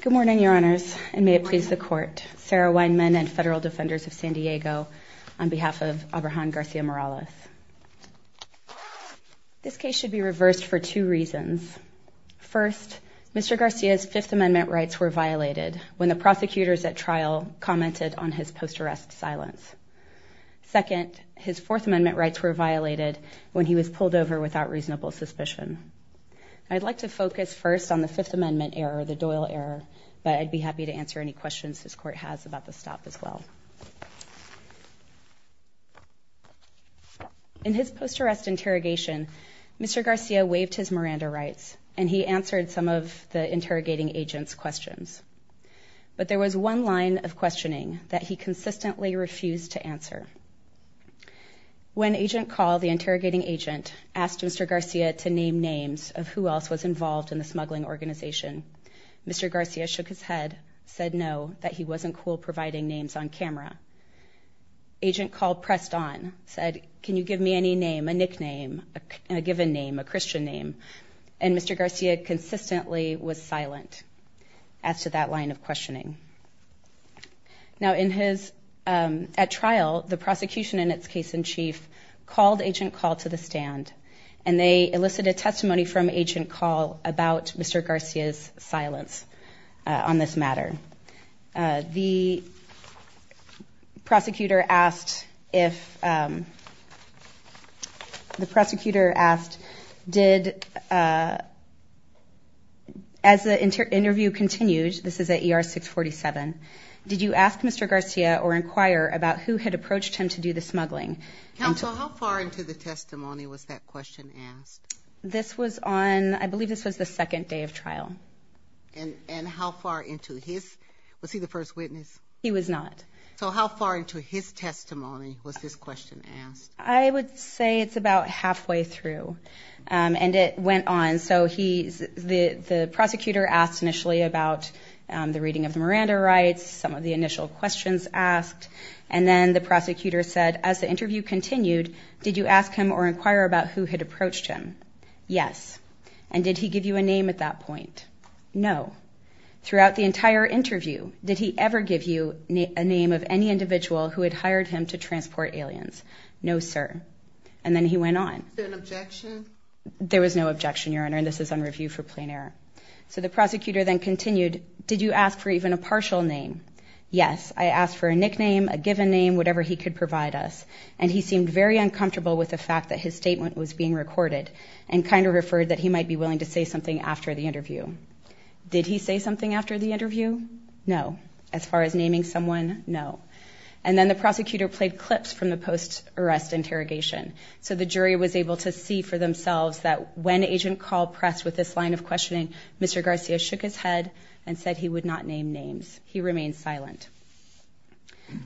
Good morning, Your Honors, and may it please the Court, Sarah Weinman and Federal Defenders of San Diego, on behalf of Abrahan Garcia-Morales. This case should be reversed for two reasons. First, Mr. Garcia's Fifth Amendment rights were violated when the prosecutors at trial commented on his post-arrest silence. Second, his Fourth Amendment rights were violated when he was pulled over without reasonable suspicion. I'd like to focus first on the Fifth Amendment error, the Doyle error, but I'd be happy to answer any questions this Court has about the stop as well. In his post-arrest interrogation, Mr. Garcia waived his Miranda rights, and he answered some of the interrogating agent's questions. But there was one line of questioning that he consistently refused to answer. When Agent Call, the interrogating agent, asked Mr. Garcia to name names of who else was involved in the smuggling organization, Mr. Garcia shook his head, said no, that he wasn't cool providing names on camera. Agent Call pressed on, said, can you give me any name, a nickname, a given name, a Christian name? And Mr. Garcia consistently was silent as to that line of questioning. Now, at trial, the prosecution in its case in chief called Agent Call to the stand, and they elicited testimony from Agent Call about Mr. Garcia's silence on this matter. The prosecutor asked if, the prosecutor asked, did, as the interview continued, this is at ER 647, did you ask Mr. Garcia or inquire about who had approached him to do the smuggling? Counsel, how far into the testimony was that question asked? This was on, I believe this was the second day of trial. And how far into his, was he the first witness? He was not. So how far into his testimony was this question asked? I would say it's about halfway through, and it went on. So he, the prosecutor asked initially about the reading of the Miranda rights, some of the initial questions asked, and then the prosecutor said, as the interview continued, did you ask him or inquire about who had approached him? Yes. And did he give you a name at that point? No. Throughout the entire interview, did he ever give you a name of any individual who had hired him to transport aliens? No, sir. And then he went on. Was there an objection? There was no objection, Your Honor, and this is on review for plain error. So the prosecutor then continued, did you ask for even a partial name? Yes, I asked for a nickname, a given name, whatever he could provide us, and he seemed very uncomfortable with the fact that his statement was being recorded and kind of referred that he might be willing to say something after the interview. Did he say something after the interview? No. As far as naming someone, no. And then the prosecutor played clips from the post-arrest interrogation, so the jury was able to see for themselves that when Agent Call pressed with this line of questioning, Mr. Garcia shook his head and said he would not name names. He remained silent.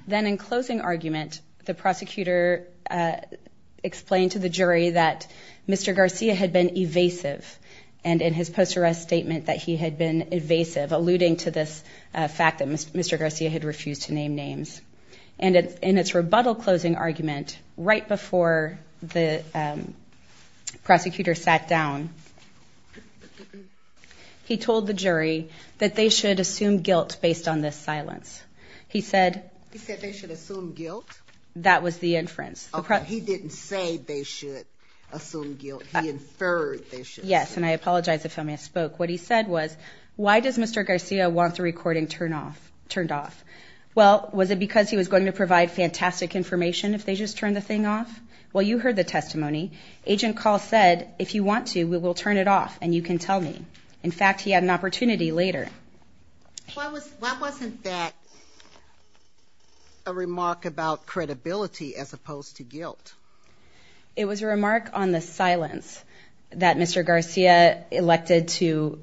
Then in closing argument, the prosecutor explained to the jury that Mr. Garcia had been evasive and in his post-arrest statement that he had been evasive, alluding to this fact that Mr. Garcia had refused to name names. And in its rebuttal closing argument, right before the prosecutor sat down, he told the jury that they should assume guilt based on this silence. He said they should assume guilt? That was the inference. Okay. He didn't say they should assume guilt. He inferred they should. Yes, and I apologize if I misspoke. What he said was, why does Mr. Garcia want the recording turned off? Well, was it because he was going to provide fantastic information if they just turned the thing off? Well, you heard the testimony. Agent Call said, if you want to, we will turn it off and you can tell me. In fact, he had an opportunity later. Why wasn't that a remark about credibility as opposed to guilt? It was a remark on the silence that Mr. Garcia elected to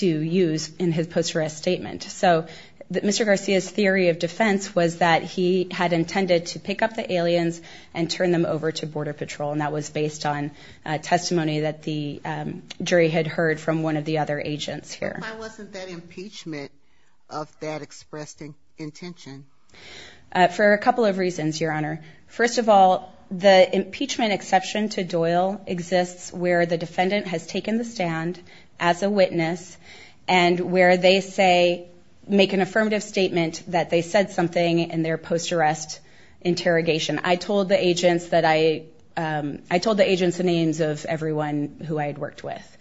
use in his post-arrest statement. So Mr. Garcia's theory of defense was that he had intended to pick up the aliens and turn them over to Border Patrol, and that was based on testimony that the jury had heard from one of the other agents here. Why wasn't that impeachment of that expressed intention? For a couple of reasons, Your Honor. First of all, the impeachment exception to Doyle exists where the defendant has taken the stand as a witness and where they make an affirmative statement that they said something in their post-arrest interrogation. I told the agents the names of everyone who I had worked with.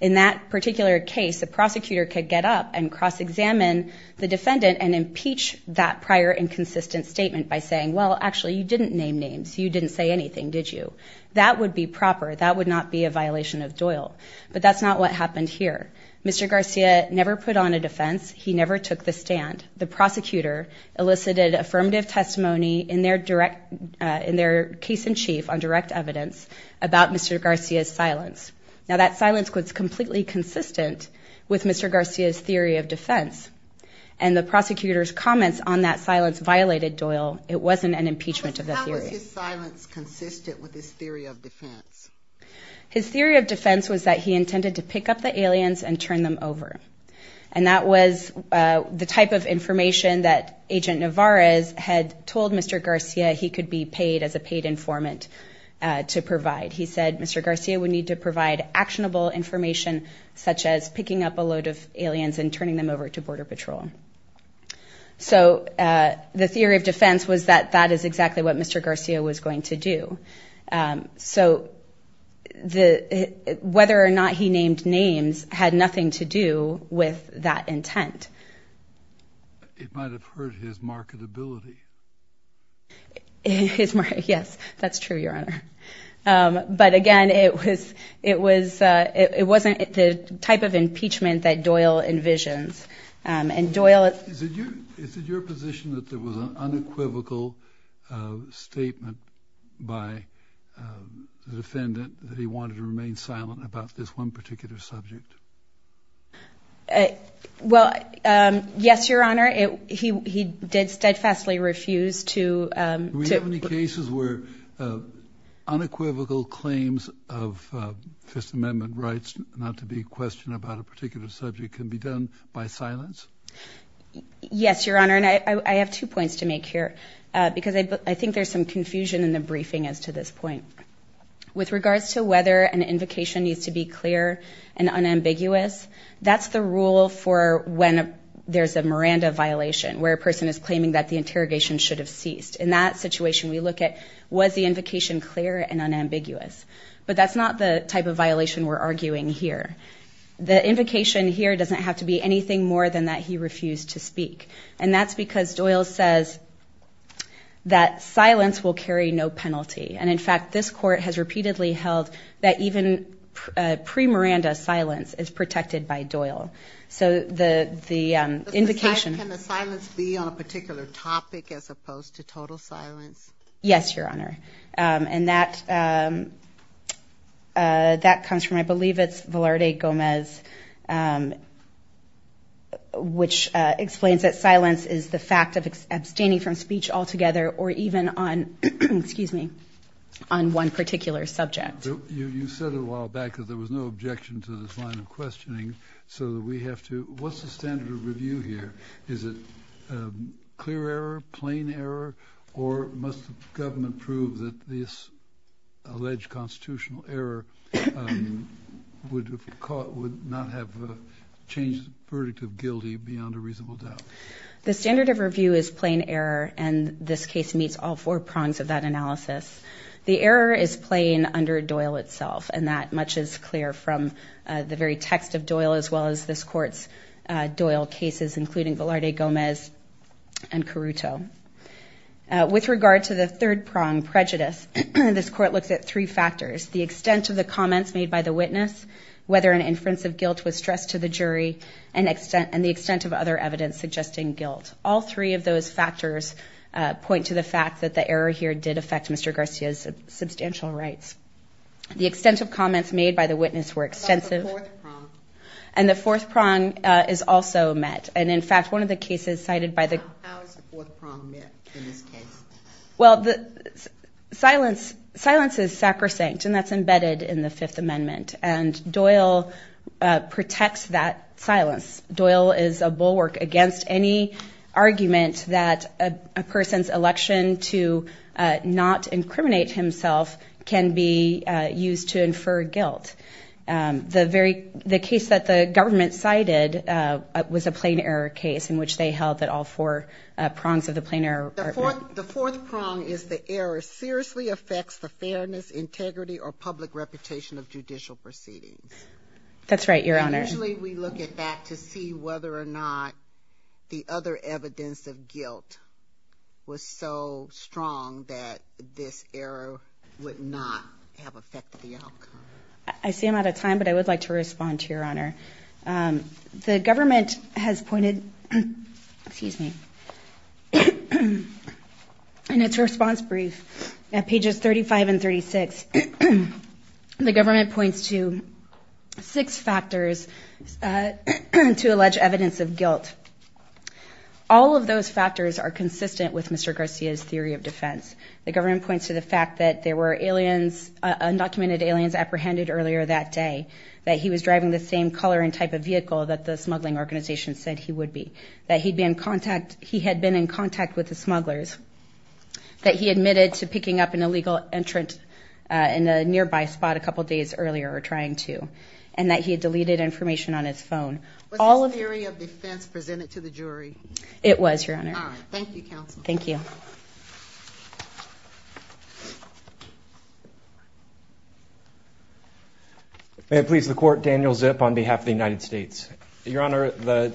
In that particular case, a prosecutor could get up and cross-examine the defendant and impeach that prior inconsistent statement by saying, well, actually, you didn't name names. You didn't say anything, did you? That would be proper. That would not be a violation of Doyle. But that's not what happened here. Mr. Garcia never put on a defense. He never took the stand. The prosecutor elicited affirmative testimony in their case in chief on direct evidence about Mr. Garcia's silence. Now, that silence was completely consistent with Mr. Garcia's theory of defense, and the prosecutor's comments on that silence violated Doyle. It wasn't an impeachment of the theory. How was his silence consistent with his theory of defense? His theory of defense was that he intended to pick up the aliens and turn them over, and that was the type of information that Agent Nevarez had told Mr. Garcia he could be paid as a paid informant to provide. He said Mr. Garcia would need to provide actionable information, such as picking up a load of aliens and turning them over to Border Patrol. So the theory of defense was that that is exactly what Mr. Garcia was going to do. So whether or not he named names had nothing to do with that intent. It might have hurt his marketability. Yes, that's true, Your Honor. But, again, it wasn't the type of impeachment that Doyle envisions. Is it your position that there was an unequivocal statement by the defendant that he wanted to remain silent about this one particular subject? Well, yes, Your Honor. He did steadfastly refuse to — Do we have any cases where unequivocal claims of Fifth Amendment rights, not to be questioned about a particular subject, can be done by silence? Yes, Your Honor, and I have two points to make here because I think there's some confusion in the briefing as to this point. With regards to whether an invocation needs to be clear and unambiguous, that's the rule for when there's a Miranda violation, where a person is claiming that the interrogation should have ceased. In that situation, we look at was the invocation clear and unambiguous? But that's not the type of violation we're arguing here. The invocation here doesn't have to be anything more than that he refused to speak, and that's because Doyle says that silence will carry no penalty. And, in fact, this court has repeatedly held that even pre-Miranda silence is protected by Doyle. So the invocation— Can the silence be on a particular topic as opposed to total silence? Yes, Your Honor. And that comes from, I believe it's Velarde Gomez, which explains that silence is the fact of abstaining from speech altogether or even on one particular subject. You said a while back that there was no objection to this line of questioning, so we have to—what's the standard of review here? Is it clear error, plain error, or must the government prove that this alleged constitutional error would not have changed the verdict of guilty beyond a reasonable doubt? The standard of review is plain error, and this case meets all four prongs of that analysis. The error is plain under Doyle itself, and that much is clear from the very text of Doyle as well as this court's Doyle cases, including Velarde Gomez and Caruto. With regard to the third prong, prejudice, this court looks at three factors, the extent of the comments made by the witness, whether an inference of guilt was stressed to the jury, and the extent of other evidence suggesting guilt. All three of those factors point to the fact that the error here did affect Mr. Garcia's substantial rights. The extent of comments made by the witness were extensive— and the fourth prong is also met, and in fact one of the cases cited by the— How is the fourth prong met in this case? Well, silence is sacrosanct, and that's embedded in the Fifth Amendment, and Doyle protects that silence. Doyle is a bulwark against any argument that a person's election to not incriminate himself can be used to infer guilt. The case that the government cited was a plain error case in which they held that all four prongs of the plain error— The fourth prong is the error seriously affects the fairness, integrity, or public reputation of judicial proceedings. That's right, Your Honor. And usually we look at that to see whether or not the other evidence of guilt was so strong that this error would not have affected the outcome. I see I'm out of time, but I would like to respond to Your Honor. The government has pointed—excuse me. In its response brief at pages 35 and 36, the government points to six factors to allege evidence of guilt. All of those factors are consistent with Mr. Garcia's theory of defense. The government points to the fact that there were aliens, undocumented aliens apprehended earlier that day, that he was driving the same color and type of vehicle that the smuggling organization said he would be, that he had been in contact with the smugglers, that he admitted to picking up an illegal entrant in a nearby spot a couple days earlier or trying to, and that he had deleted information on his phone. Was this theory of defense presented to the jury? It was, Your Honor. All right. Thank you, counsel. Thank you. May it please the Court, Daniel Zip on behalf of the United States. Your Honor, the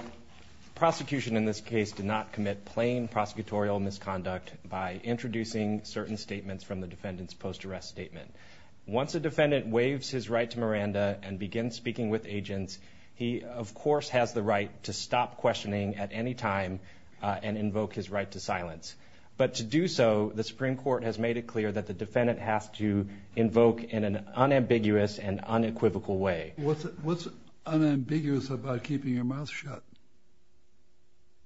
prosecution in this case did not commit plain prosecutorial misconduct by introducing certain statements from the defendant's post-arrest statement. Once a defendant waives his right to Miranda and begins speaking with agents, he, of course, has the right to stop questioning at any time and invoke his right to silence. But to do so, the Supreme Court has made it clear that the defendant has to invoke in an unambiguous and unequivocal way. What's unambiguous about keeping your mouth shut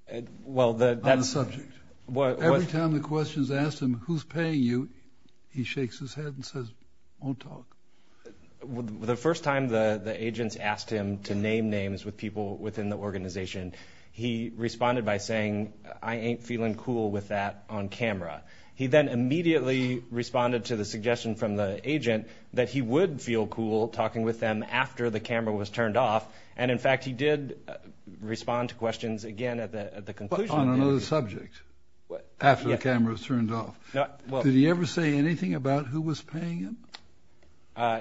on a subject? Every time the question is asked him, who's paying you, he shakes his head and says, won't talk. The first time the agents asked him to name names with people within the organization, he responded by saying, I ain't feeling cool with that on camera. He then immediately responded to the suggestion from the agent that he would feel cool talking with them after the camera was turned off, and, in fact, he did respond to questions again at the conclusion. But on another subject, after the camera was turned off. Did he ever say anything about who was paying him?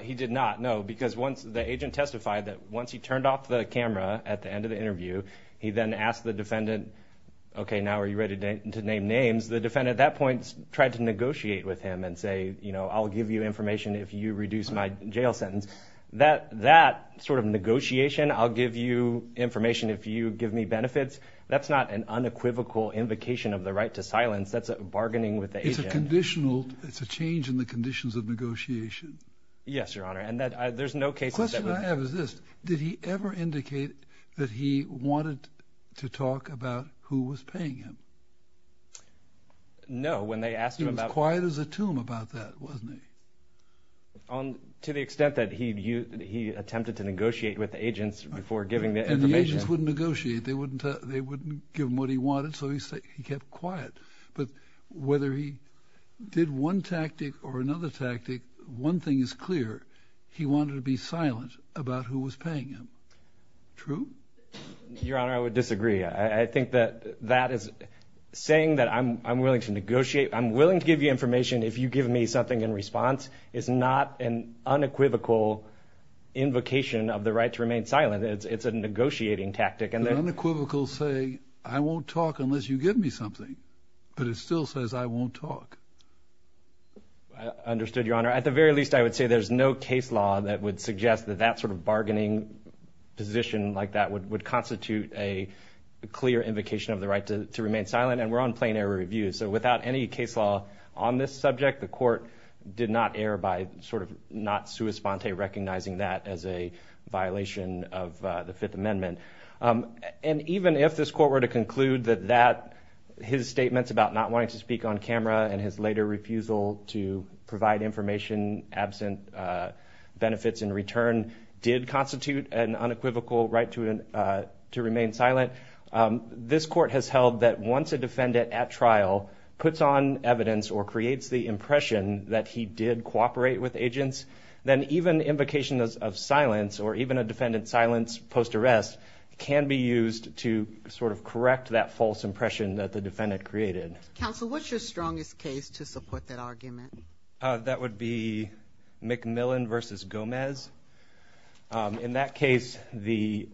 He did not, no, because once the agent testified that once he turned off the camera at the end of the interview, he then asked the defendant, okay, now are you ready to name names? The defendant at that point tried to negotiate with him and say, you know, I'll give you information if you reduce my jail sentence. That sort of negotiation, I'll give you information if you give me benefits, that's not an unequivocal invocation of the right to silence. That's a bargaining with the agent. It's a conditional. It's a change in the conditions of negotiation. Yes, Your Honor, and there's no case of that. The question I have is this. Did he ever indicate that he wanted to talk about who was paying him? No, when they asked him about. He was quiet as a tomb about that, wasn't he? To the extent that he attempted to negotiate with the agents before giving the information. And the agents wouldn't negotiate. They wouldn't give him what he wanted, so he kept quiet. But whether he did one tactic or another tactic, one thing is clear. He wanted to be silent about who was paying him. True? Your Honor, I would disagree. I think that that is saying that I'm willing to negotiate, I'm willing to give you information if you give me something in response, is not an unequivocal invocation of the right to remain silent. It's a negotiating tactic. Unequivocals say I won't talk unless you give me something. But it still says I won't talk. I understood, Your Honor. At the very least, I would say there's no case law that would suggest that that sort of bargaining position like that would constitute a clear invocation of the right to remain silent, and we're on plain error review. So without any case law on this subject, the court did not err by sort of not sua sponte recognizing that as a violation of the Fifth Amendment. And even if this court were to conclude that his statements about not wanting to speak on camera and his later refusal to provide information absent benefits in return did constitute an unequivocal right to remain silent, this court has held that once a defendant at trial puts on evidence or creates the impression that he did cooperate with agents, then even invocation of silence or even a defendant's silence post-arrest can be used to sort of correct that false impression that the defendant created. Counsel, what's your strongest case to support that argument? That would be McMillan v. Gomez. In that case, the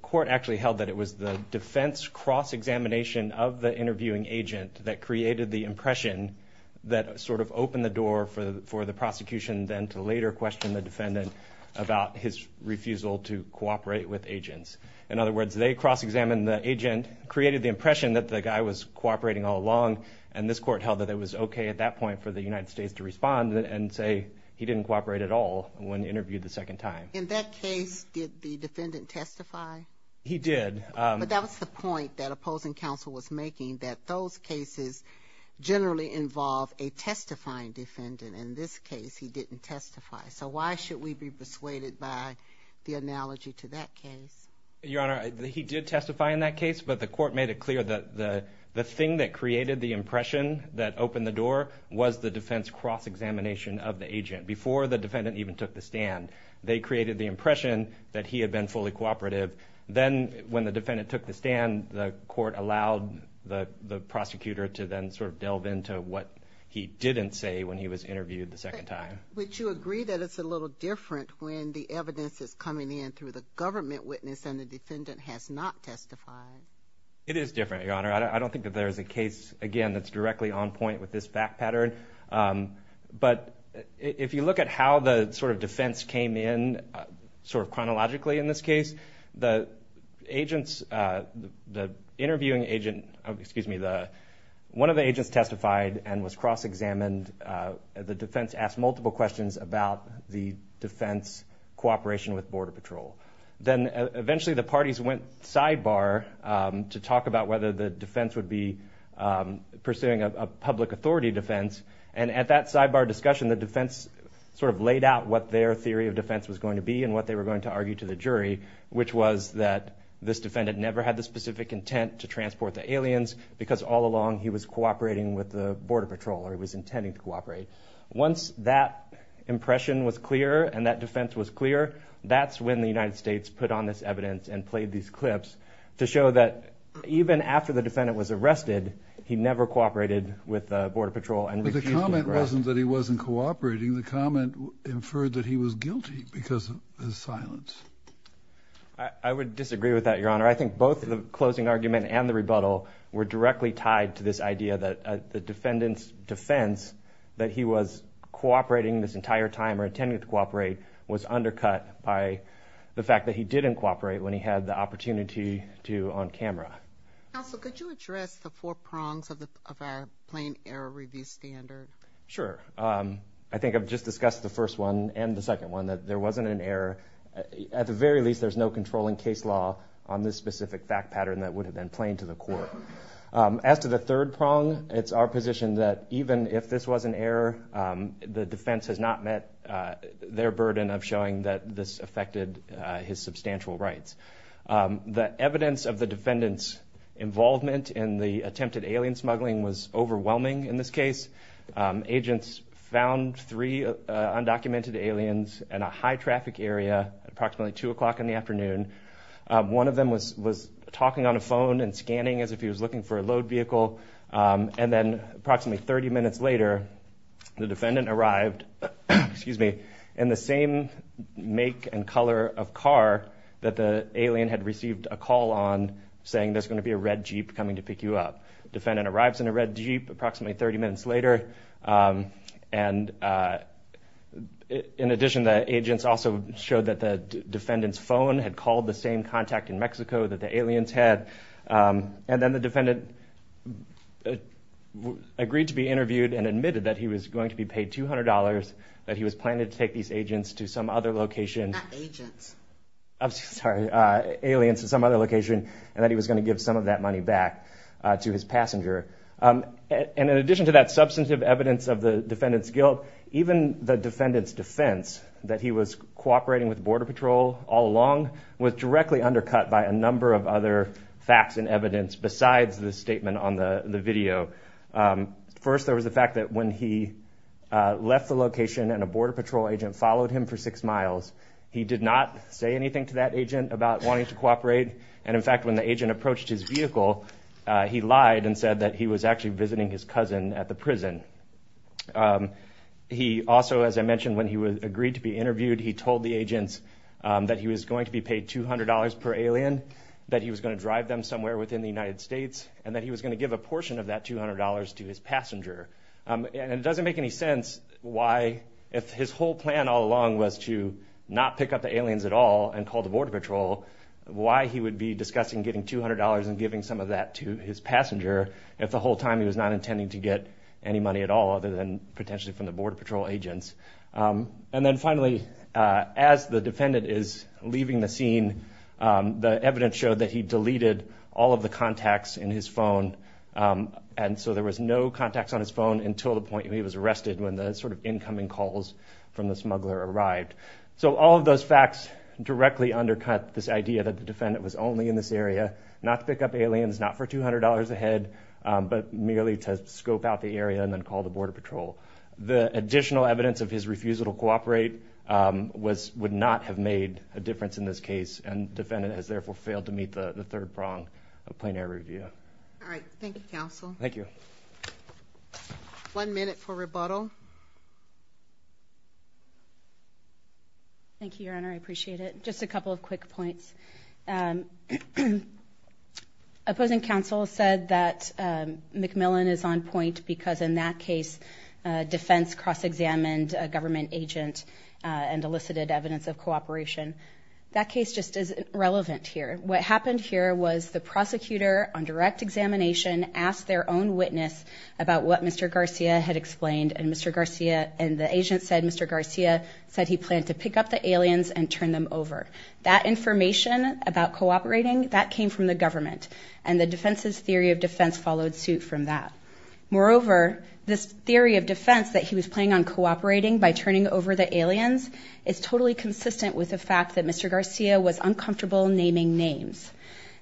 court actually held that it was the defense cross-examination of the interviewing agent that created the impression that sort of opened the door for the prosecution then to later question the defendant about his refusal to cooperate with agents. In other words, they cross-examined the agent, created the impression that the guy was cooperating all along, and this court held that it was okay at that point for the United States to respond and say he didn't cooperate at all when interviewed the second time. In that case, did the defendant testify? He did. But that was the point that opposing counsel was making, that those cases generally involve a testifying defendant. In this case, he didn't testify. So why should we be persuaded by the analogy to that case? Your Honor, he did testify in that case, but the court made it clear that the thing that created the impression that opened the door was the defense cross-examination of the agent before the defendant even took the stand. They created the impression that he had been fully cooperative. Then when the defendant took the stand, the court allowed the prosecutor to then sort of delve into what he didn't say when he was interviewed the second time. Would you agree that it's a little different when the evidence is coming in through the government witness and the defendant has not testified? It is different, Your Honor. I don't think that there is a case, again, that's directly on point with this fact pattern. But if you look at how the sort of defense came in sort of chronologically in this case, the agents, the interviewing agent, excuse me, one of the agents testified and was cross-examined. The defense asked multiple questions about the defense cooperation with Border Patrol. Then eventually the parties went sidebar to talk about whether the defense would be pursuing a public authority defense. And at that sidebar discussion, the defense sort of laid out what their theory of defense was going to be and what they were going to argue to the jury, which was that this defendant never had the specific intent to transport the aliens because all along he was cooperating with the Border Patrol or he was intending to cooperate. Once that impression was clear and that defense was clear, that's when the United States put on this evidence and played these clips to show that even after the defendant was arrested, he never cooperated with the Border Patrol and refused to cooperate. But the comment wasn't that he wasn't cooperating. The comment inferred that he was guilty because of his silence. I would disagree with that, Your Honor. I think both the closing argument and the rebuttal were directly tied to this idea that the defendant's defense, that he was cooperating this entire time or intending to cooperate, was undercut by the fact that he didn't cooperate when he had the opportunity to on camera. Counsel, could you address the four prongs of our plain error review standard? Sure. I think I've just discussed the first one and the second one, that there wasn't an error. At the very least, there's no controlling case law on this specific fact pattern that would have been plain to the court. As to the third prong, it's our position that even if this was an error, the defense has not met their burden of showing that this affected his substantial rights. The evidence of the defendant's involvement in the attempted alien smuggling was overwhelming in this case. Agents found three undocumented aliens in a high traffic area at approximately 2 o'clock in the afternoon. One of them was talking on a phone and scanning as if he was looking for a load vehicle. And then approximately 30 minutes later, the defendant arrived in the same make and color of car that the alien had received a call on, saying there's going to be a red Jeep coming to pick you up. The defendant arrives in a red Jeep approximately 30 minutes later. In addition, the agents also showed that the defendant's phone had called the same contact in Mexico that the aliens had. And then the defendant agreed to be interviewed and admitted that he was going to be paid $200, that he was planning to take these aliens to some other location, and that he was going to give some of that money back to his passenger. And in addition to that substantive evidence of the defendant's guilt, even the defendant's defense that he was cooperating with Border Patrol all along was directly undercut by a number of other facts and evidence besides the statement on the video. First, there was the fact that when he left the location and a Border Patrol agent followed him for six miles, he did not say anything to that agent about wanting to cooperate. And in fact, when the agent approached his vehicle, he lied and said that he was actually visiting his cousin at the prison. He also, as I mentioned, when he agreed to be interviewed, he told the agents that he was going to be paid $200 per alien, that he was going to drive them somewhere within the United States, and that he was going to give a portion of that $200 to his passenger. And it doesn't make any sense why, if his whole plan all along was to not pick up the aliens at all and call the Border Patrol, why he would be discussing getting $200 and giving some of that to his passenger if the whole time he was not intending to get any money at all other than potentially from the Border Patrol agents. And then finally, as the defendant is leaving the scene, the evidence showed that he deleted all of the contacts in his phone. And so there was no contacts on his phone until the point he was arrested when the sort of incoming calls from the smuggler arrived. So all of those facts directly undercut this idea that the defendant was only in this area, not to pick up aliens, not for $200 a head, but merely to scope out the area and then call the Border Patrol. The additional evidence of his refusal to cooperate would not have made a difference in this case, and the defendant has therefore failed to meet the third prong of plain air review. All right. Thank you, counsel. Thank you. One minute for rebuttal. Thank you, Your Honor. I appreciate it. Just a couple of quick points. Opposing counsel said that McMillan is on point because, in that case, defense cross-examined a government agent and elicited evidence of cooperation. That case just isn't relevant here. What happened here was the prosecutor on direct examination asked their own witness about what Mr. Garcia had explained, and Mr. Garcia and the agent said Mr. Garcia said he planned to pick up the aliens and turn them over. That information about cooperating, that came from the government, and the defense's theory of defense followed suit from that. Moreover, this theory of defense that he was planning on cooperating by turning over the aliens is totally consistent with the fact that Mr. Garcia was uncomfortable naming names,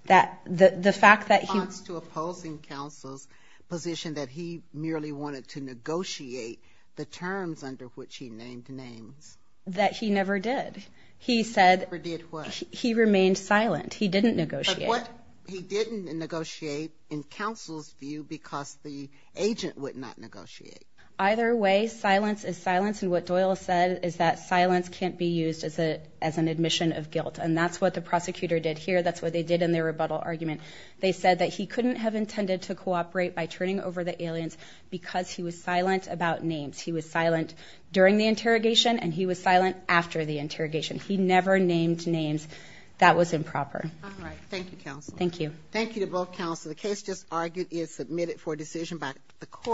that the fact that he ---- In response to opposing counsel's position that he merely wanted to negotiate the terms under which he named names. That he never did. He said ---- Never did what? He remained silent. He didn't negotiate. But what he didn't negotiate in counsel's view because the agent would not negotiate. Either way, silence is silence, and what Doyle said is that silence can't be used as an admission of guilt, and that's what the prosecutor did here. That's what they did in their rebuttal argument. They said that he couldn't have intended to cooperate by turning over the aliens because he was silent about names. He was silent during the interrogation, and he was silent after the interrogation. He never named names. That was improper. All right. Thank you, counsel. Thank you. Thank you to both counsel. The case just argued is submitted for decision by the court.